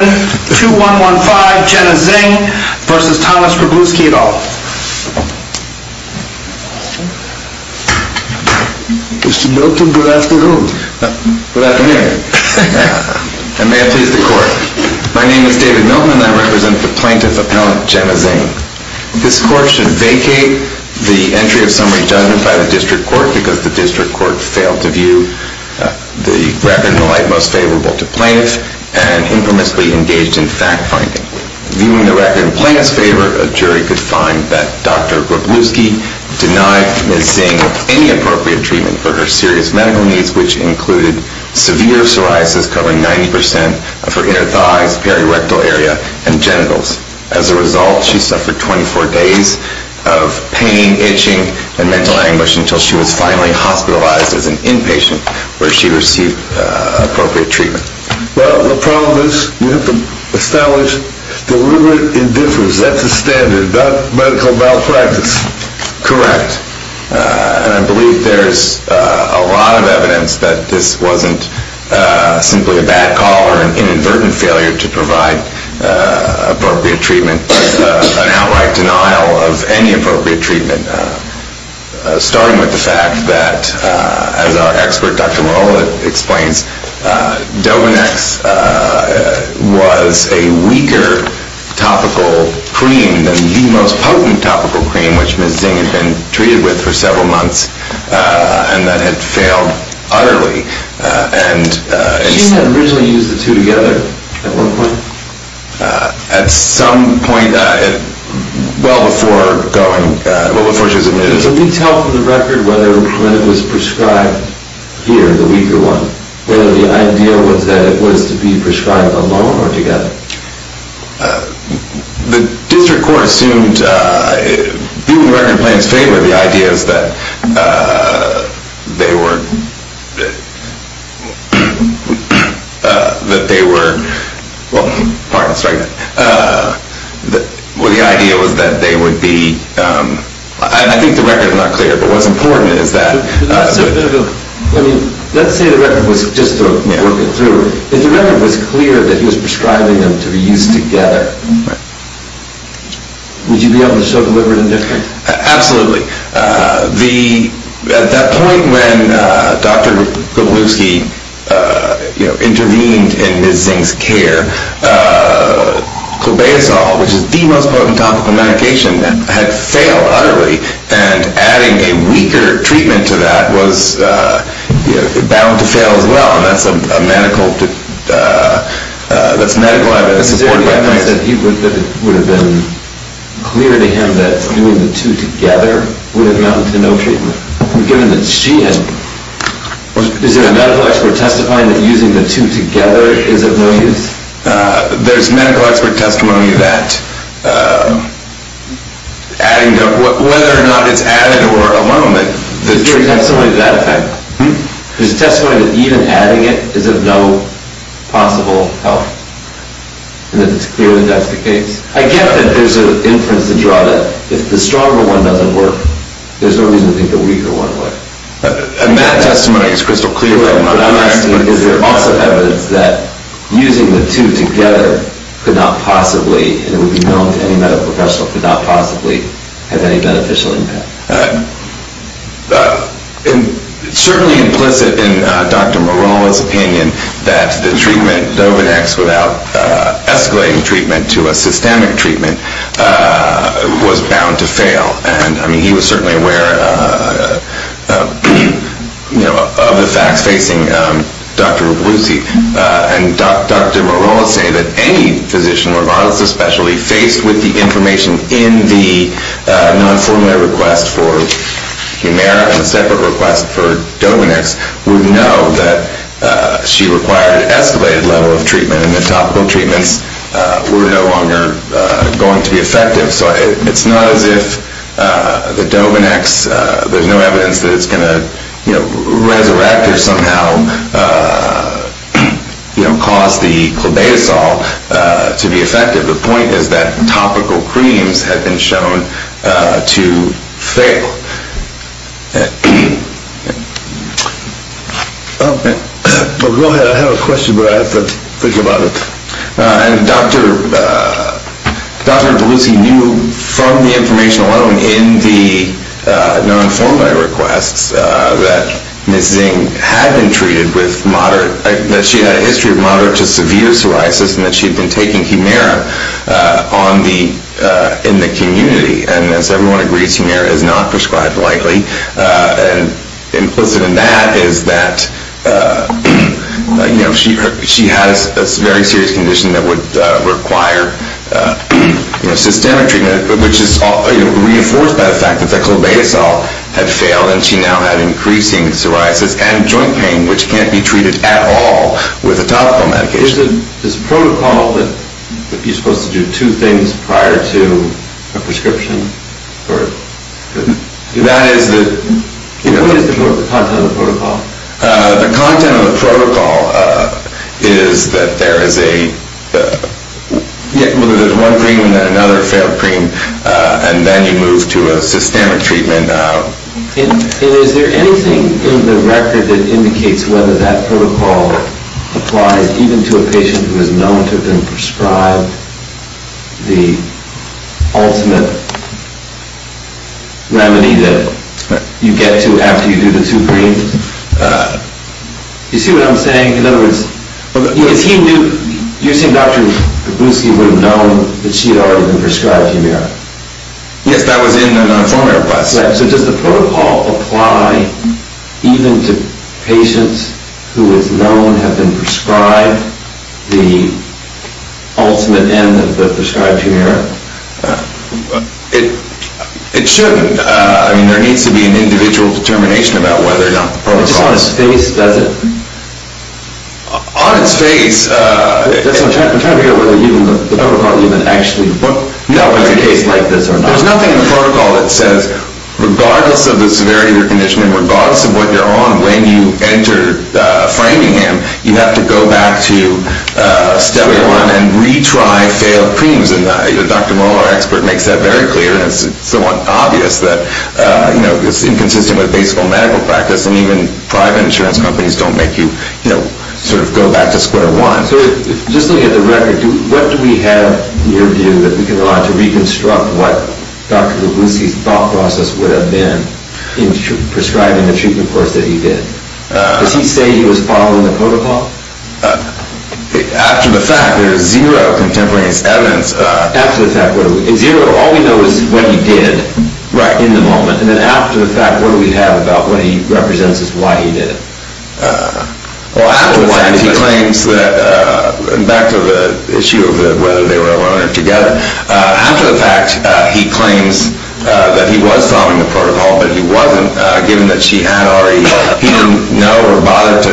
Mr. Milton, good afternoon. Good afternoon, and may it please the court. My name is David Milton and I represent the plaintiff appellant Jenna Zingg. This court should vacate the entry of summary judgment by the district court because the district court failed to fact-finding. Viewing the record in plaintiff's favor, a jury could find that Dr. Groblewski denied Ms. Zingg any appropriate treatment for her serious medical needs, which included severe psoriasis covering 90% of her inner thighs, periorectal area, and genitals. As a result, she suffered 24 days of pain, itching, and mental anguish until she was finally hospitalized as an inpatient where she received appropriate treatment. Well, the problem is, you have to establish deliberate indifference. That's a standard, not medical malpractice. Correct. And I believe there's a lot of evidence that this wasn't simply a bad call or an inadvertent failure to provide appropriate treatment, an outright denial of any appropriate treatment, starting with the fact that, as our expert Dr. Marola explains, Dovonex was a weaker topical cream than the most potent topical cream which Ms. Zingg had been treated with for several months and that had failed utterly. She had originally used the two together at one point. At some point, well before she was admitted. Can you tell from the record whether when it was prescribed here, the weaker one, whether the idea was that it was to be prescribed alone or together? The district court assumed, viewing the record in Plain's favor, the idea is that they were that they were, pardon the strangeness, the idea was that they would be, I think the record is not clear, but what's important is that Let's say the record was, just to work it through, if the record was clear that he was prescribing them to be used together, would you be able to show deliberate indifference? Absolutely. At that point when Dr. Kowalewski intervened in Ms. Zingg's care, clobazol, which is the most potent topical medication, had failed utterly and adding a weaker treatment to that was bound to fail as well. And that's a medical, that's medical evidence. Is there any evidence that it would have been clear to him that using the two together would have amounted to no treatment? Given that she had, is there a medical expert testifying that using the two together is of no use? There's medical expert testimony that adding, whether or not it's added or alone, Is there testimony to that effect? There's testimony that even adding it is of no possible help? And that it's clear that that's the case? I get that there's an inference to draw that if the stronger one doesn't work, there's no reason to think the weaker one would. And that testimony is crystal clear from what I'm hearing. Is there also evidence that using the two together could not possibly, and it would be known to any medical professional, could not possibly have any beneficial impact? It's certainly implicit in Dr. Morales' opinion that the treatment, Dovidex, without escalating treatment to a systemic treatment, was bound to fail. And, I mean, he was certainly aware, you know, of the facts facing Dr. Rablusey. And Dr. Morales said that any physician, or doctor of specialty, faced with the information in the non-formulae request for Humira and the separate request for Dovidex would know that she required an escalated level of treatment and the topical treatments were no longer going to be effective. So it's not as if the Dovidex, there's no evidence that it's going to, you know, resurrect or somehow, you know, cause the clobazosol to be effective. The point is that topical creams had been shown to fail. Go ahead. I have a question, but I have to think about it. Dr. Rablusey knew from the information alone in the non-formulae requests that Ms. Zing had been treated with moderate, that she had a history of moderate to severe psoriasis and that she had been taking Humira in the community. And as everyone agrees, Humira is not prescribed lightly. And implicit in that is that, you know, she has a very serious condition that would require systemic treatment, which is reinforced by the fact that the clobazosol had failed and she now had increasing psoriasis and joint pain, which can't be treated at all with a topical medication. So there's this protocol that you're supposed to do two things prior to a prescription? That is the... What is the content of the protocol? The content of the protocol is that there is a, whether there's one cream and then another failed cream and then you move to a systemic treatment. And is there anything in the record that indicates whether that protocol applies even to a patient who has known to have been prescribed the ultimate remedy that you get to after you do the two creams? You see what I'm saying? In other words, you're saying Dr. Rablusey would have known that she had already been prescribed Humira? Yes, that was in the former request. So does the protocol apply even to patients who is known to have been prescribed the ultimate end of the prescribed Humira? It shouldn't. I mean, there needs to be an individual determination about whether or not the protocol... It's just on its face, does it? On its face... I'm trying to figure out whether the protocol even actually... No, there's nothing in the protocol that says regardless of the severity of your condition and regardless of what you're on when you enter Framingham, you have to go back to Step 1 and retry failed creams. And Dr. Mohler, our expert, makes that very clear and it's somewhat obvious that it's inconsistent with basic medical practice and even private insurance companies don't make you sort of go back to square one. So just looking at the record, what do we have in your view that we can rely on to reconstruct what Dr. Rablusey's thought process would have been in prescribing the treatment course that he did? Does he say he was following the protocol? After the fact, there is zero contemporaneous evidence... After the fact, what do we... Zero, all we know is what he did in the moment. And then after the fact, what do we have about what he represents as why he did it? Well, after the fact, he claims that... Back to the issue of whether they were alone or together. After the fact, he claims that he was following the protocol, but he wasn't, given that she had already... He didn't know or bother to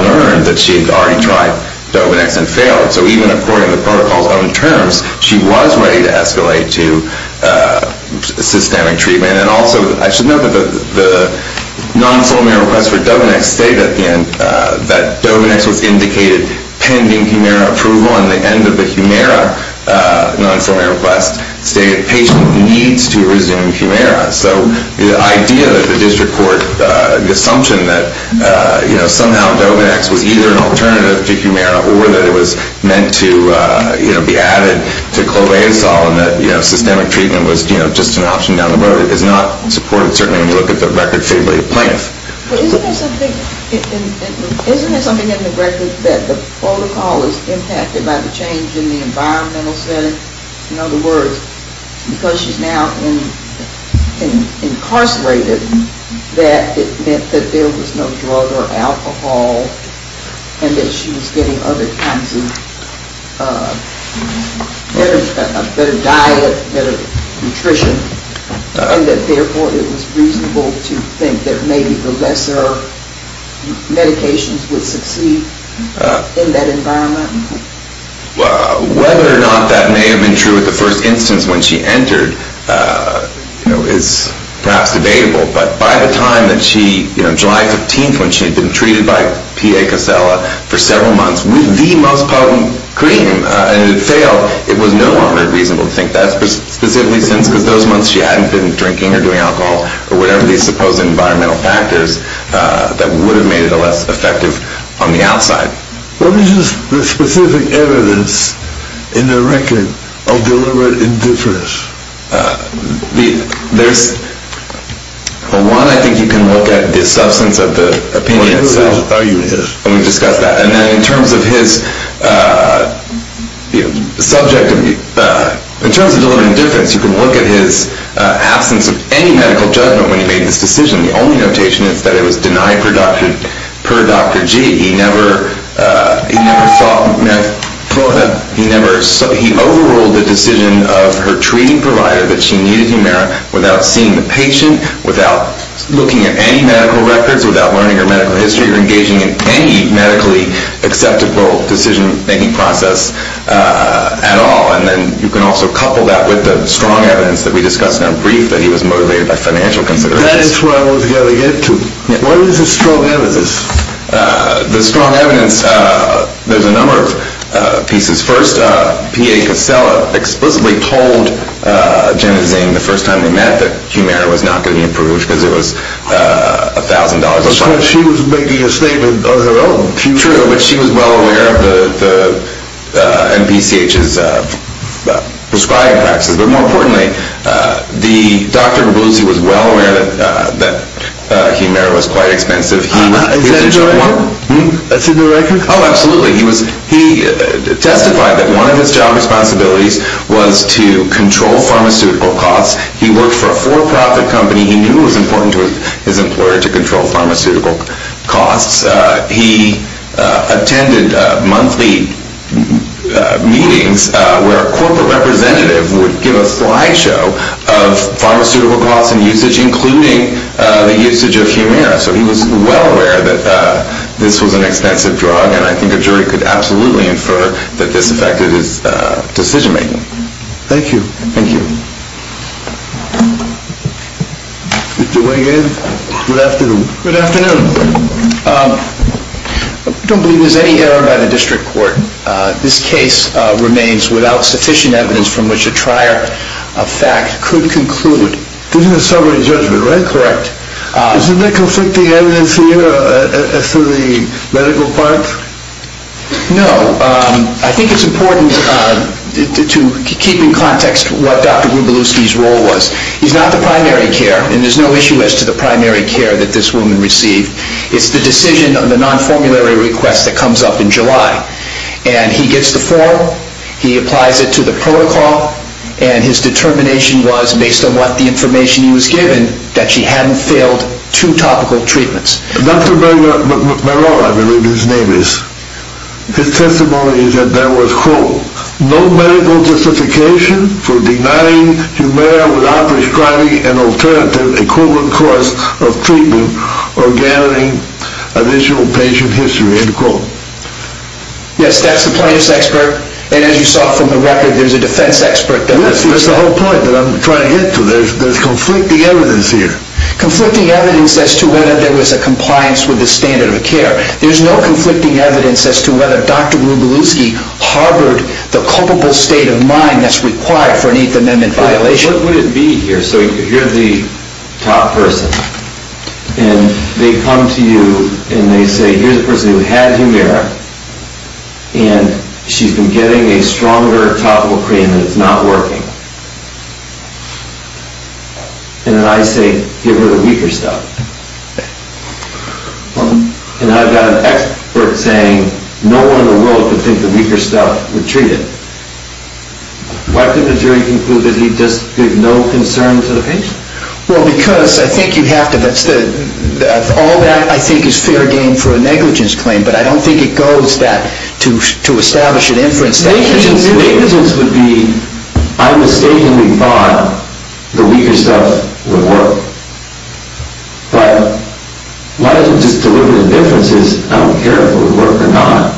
learn that she had already tried Dovonex and failed. So even according to the protocol's own terms, she was ready to escalate to systemic treatment and also, I should note that the non-former request for Dovonex stated at the end that Dovonex was indicated pending Humira approval and the end of the Humira non-former request stated the patient needs to resume Humira. So the idea that the district court... The assumption that somehow Dovonex was either an alternative to Humira or that it was meant to be added to Cloveasol and that systemic treatment was just an option down the road is not supported, certainly when you look at the record favorably of Plaintiff. Isn't there something in the record that the protocol is impacted by the change in the environmental setting? In other words, because she's now incarcerated, that it meant that there was no drug or alcohol and that she was getting other kinds of better diet, better nutrition, and that therefore it was reasonable to think that maybe the lesser medications would succeed in that environment? Whether or not that may have been true at the first instance when she entered is perhaps debatable, but by the time that she, July 15th, when she had been treated by PA Casella for several months with the most potent cream and it failed, it was no longer reasonable to think that specifically since because those months she hadn't been drinking or doing alcohol or whatever these supposed environmental factors that would have made it less effective on the outside. What is the specific evidence in the record of deliberate indifference? Well, one, I think you can look at the substance of the opinion itself. And we discussed that. And then in terms of his subject, in terms of deliberate indifference, you can look at his absence of any medical judgment when he made this decision. The only notation is that it was denied per Dr. G. He overruled the decision of her treating provider that she needed humeric without seeing the patient, without looking at any medical records, without learning her medical history or engaging in any medically acceptable decision-making process at all. And then you can also couple that with the strong evidence that we discussed in our brief that he was motivated by financial considerations. That is where I was going to get to. What is the strong evidence? The strong evidence, there's a number of pieces. First, P.A. Casella explicitly told Janet Zane the first time they met that humeric was not going to be approved because it was $1,000 a bottle. Because she was making a statement of her own. True, but she was well aware of the NPCH's prescribing practices. But more importantly, Dr. G. was well aware that humeric was quite expensive. Is that in the record? Oh, absolutely. He testified that one of his job responsibilities was to control pharmaceutical costs. He worked for a for-profit company. He knew it was important to his employer to control pharmaceutical costs. He attended monthly meetings where a corporate representative would give a fly show of pharmaceutical costs and usage, including the usage of humeric. So he was well aware that this was an expensive drug, and I think a jury could absolutely infer that this affected his decision-making. Thank you. Thank you. Mr. Wiggins, good afternoon. Good afternoon. I don't believe there's any error by the district court. This case remains without sufficient evidence from which a trier of fact could conclude. This is a summary judgment, right? Correct. Isn't there conflicting evidence here as to the medical part? No. I think it's important to keep in context what Dr. Gubaluski's role was. He's not the primary care, and there's no issue as to the primary care that this woman received. It's the decision on the non-formulary request that comes up in July, and he gets the form, he applies it to the protocol, and his determination was, based on what the information he was given, that she hadn't failed two topical treatments. Dr. Melora, I believe his name is, his testimony is that there was, quote, Yes, that's the plaintiff's expert, and as you saw from the record, there's a defense expert. Yes, that's the whole point that I'm trying to get to. There's conflicting evidence here. Conflicting evidence as to whether there was a compliance with the standard of care. There's no conflicting evidence as to whether Dr. Gubaluski harbored the culpable state of mind that's required for an Eighth Amendment violation. What would it be here? So you're the top person, and they come to you, and they say, here's a person who had Humira, and she's been getting a stronger topical cream, and it's not working. And then I say, give her the weaker stuff. And I've got an expert saying, no one in the world could think the weaker stuff would treat it. Why could the jury conclude that he just gave no concern to the patient? Well, because I think you have to, all that I think is fair game for a negligence claim, but I don't think it goes that, to establish an inference. Negligence would be, I mistakenly thought the weaker stuff would work. But why don't you just deliver the inferences, I don't care if it would work or not.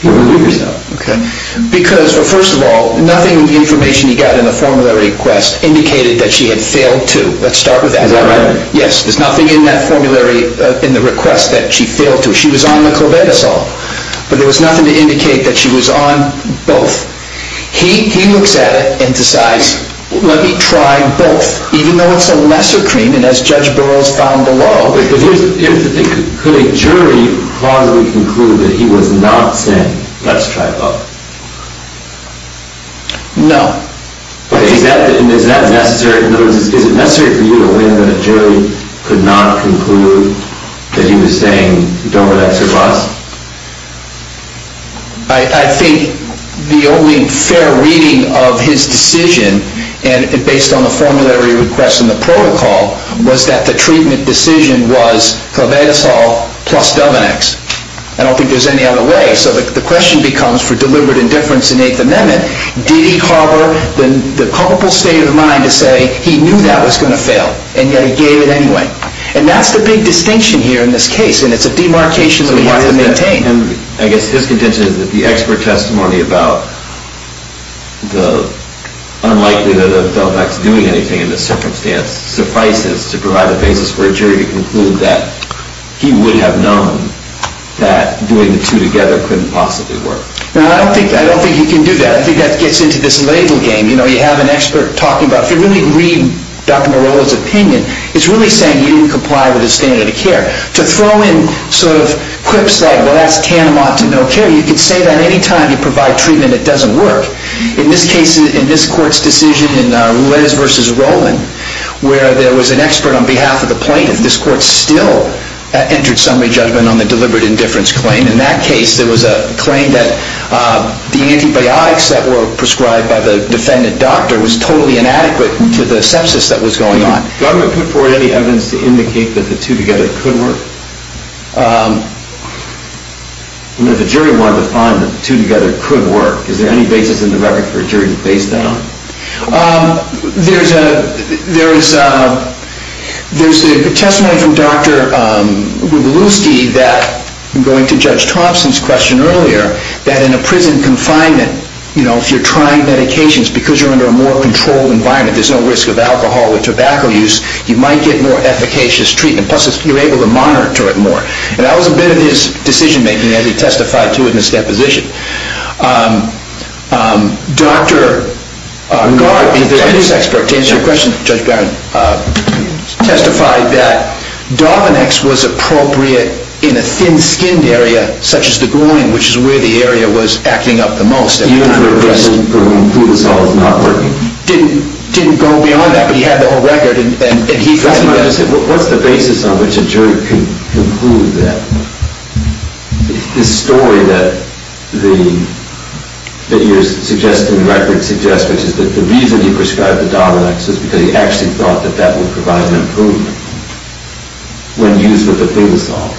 Give her the weaker stuff. Okay. Because, well, first of all, nothing in the information he got in the formulary request indicated that she had failed to. Let's start with that. Is that right? Yes. There's nothing in that formulary, in the request, that she failed to. She was on the cobetasol. But there was nothing to indicate that she was on both. He looks at it and decides, let me try both. Even though it's a lesser claim, and as Judge Burroughs found below. Could a jury possibly conclude that he was not saying, let's try both? No. Is that necessary? In other words, is it necessary for you to think that a jury could not conclude that he was saying, don't relax your boss? I think the only fair reading of his decision, and based on the formulary request and the protocol, was that the treatment decision was cobetasol plus Dovenix. I don't think there's any other way. So the question becomes, for deliberate indifference in Eighth Amendment, did he harbor the comfortable state of mind to say he knew that was going to fail, and yet he gave it anyway? And that's the big distinction here in this case, and it's a demarcation that we have to maintain. I guess his contention is that the expert testimony about the unlikeliness of Dovenix doing anything in this circumstance suffices to provide the basis for a jury to conclude that he would have known that doing the two together couldn't possibly work. I don't think he can do that. I think that gets into this label game. You have an expert talking about, if you really read Dr. Morolla's opinion, it's really saying he didn't comply with his standard of care. To throw in sort of quips like, well, that's tantamount to no care, you could say that any time you provide treatment, it doesn't work. In this case, in this court's decision in Roulez v. Rowland, where there was an expert on behalf of the plaintiff, this court still entered summary judgment on the deliberate indifference claim. In that case, there was a claim that the antibiotics that were prescribed by the defendant doctor was totally inadequate to the sepsis that was going on. Government put forward any evidence to indicate that the two together could work? If a jury wanted to find that the two together could work, is there any basis in the record for a jury to base that on? There's a testimony from Dr. Wigaluski that, going to Judge Thompson's question earlier, that in a prison confinement, if you're trying medications, because you're under a more controlled environment, there's no risk of alcohol or tobacco use, you might get more efficacious treatment. Plus, you're able to monitor it more. And that was a bit of his decision-making, as he testified to in his deposition. Dr. Gard, the evidence expert, to answer your question, Judge Barron, testified that Dovonex was appropriate in a thin-skinned area, such as the groin, which is where the area was acting up the most. Even for a person for whom Flutasol is not working? It didn't go beyond that, but he had the whole record. What's the basis on which a jury can conclude that? The story that you're suggesting, the record suggests, which is that the reason he prescribed the Dovonex was because he actually thought that that would provide an improvement when used with the Flutasol.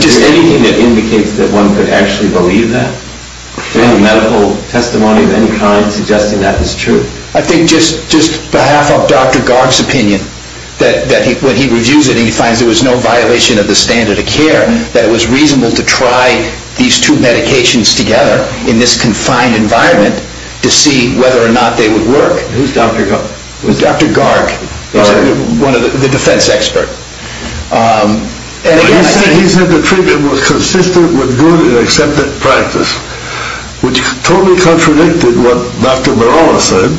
Is there anything that indicates that one could actually believe that? Any medical testimony of any kind suggesting that is true? I think just behalf of Dr. Gard's opinion, that when he reviews it, he finds there was no violation of the standard of care, that it was reasonable to try these two medications together in this confined environment to see whether or not they would work. Who's Dr. Gard? Dr. Gard, the defense expert. He said the treatment was consistent with good and accepted practice, which totally contradicted what Dr. Merola said,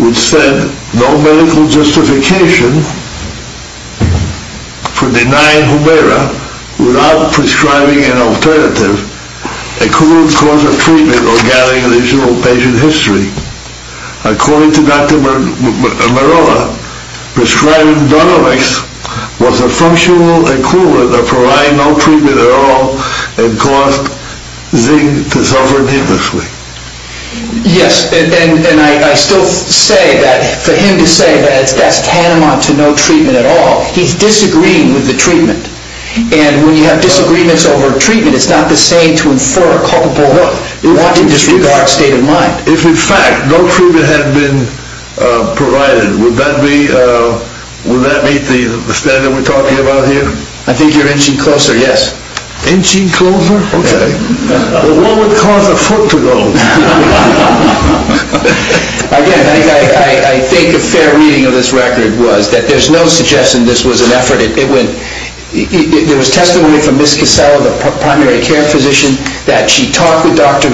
which said no medical justification for denying Humira without prescribing an alternative, a crude cause of treatment or gathering additional patient history. According to Dr. Merola, prescribing Dovonex was a functional equivalent of providing no treatment at all and caused Zing to suffer needlessly. Yes, and I still say that for him to say that that's tantamount to no treatment at all, he's disagreeing with the treatment. And when you have disagreements over a treatment, it's not the same to infer a culpable wanton disregard state of mind. If, in fact, no treatment had been provided, would that meet the standard we're talking about here? I think you're inching closer, yes. Inching closer? Okay. Well, what would cause a foot to go? Again, I think a fair reading of this record was that there's no suggestion this was an effort. There was testimony from Ms. Casella, the primary care physician, that she talked with Dr.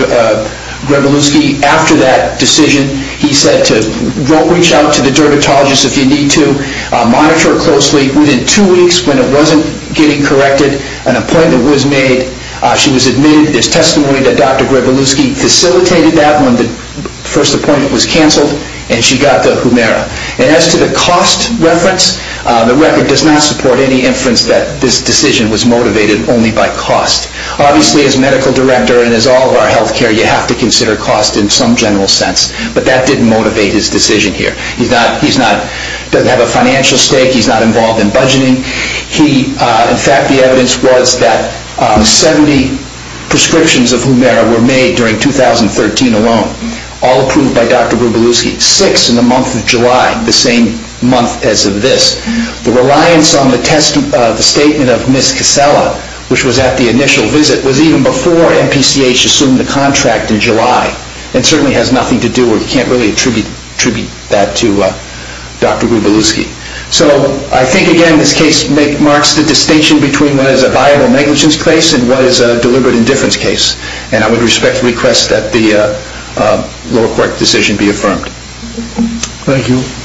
Grebuluski after that decision. He said to, don't reach out to the dermatologist if you need to. Monitor it closely. Within two weeks, when it wasn't getting corrected, an appointment was made. She was admitted. There's testimony that Dr. Grebuluski facilitated that when the first appointment was canceled and she got the Humira. And as to the cost reference, the record does not support any inference that this decision was motivated only by cost. Obviously, as medical director and as all of our health care, you have to consider cost in some general sense. But that didn't motivate his decision here. He doesn't have a financial stake. He's not involved in budgeting. In fact, the evidence was that 70 prescriptions of Humira were made during 2013 alone, all approved by Dr. Grebuluski. Six in the month of July, the same month as of this. The reliance on the statement of Ms. Casella, which was at the initial visit, was even before MPCH assumed the contract in July. It certainly has nothing to do or you can't really attribute that to Dr. Grebuluski. So I think, again, this case marks the distinction between what is a viable negligence case and what is a deliberate indifference case. And I would respectfully request that the lower court decision be affirmed. Thank you. Thank you. Thank you.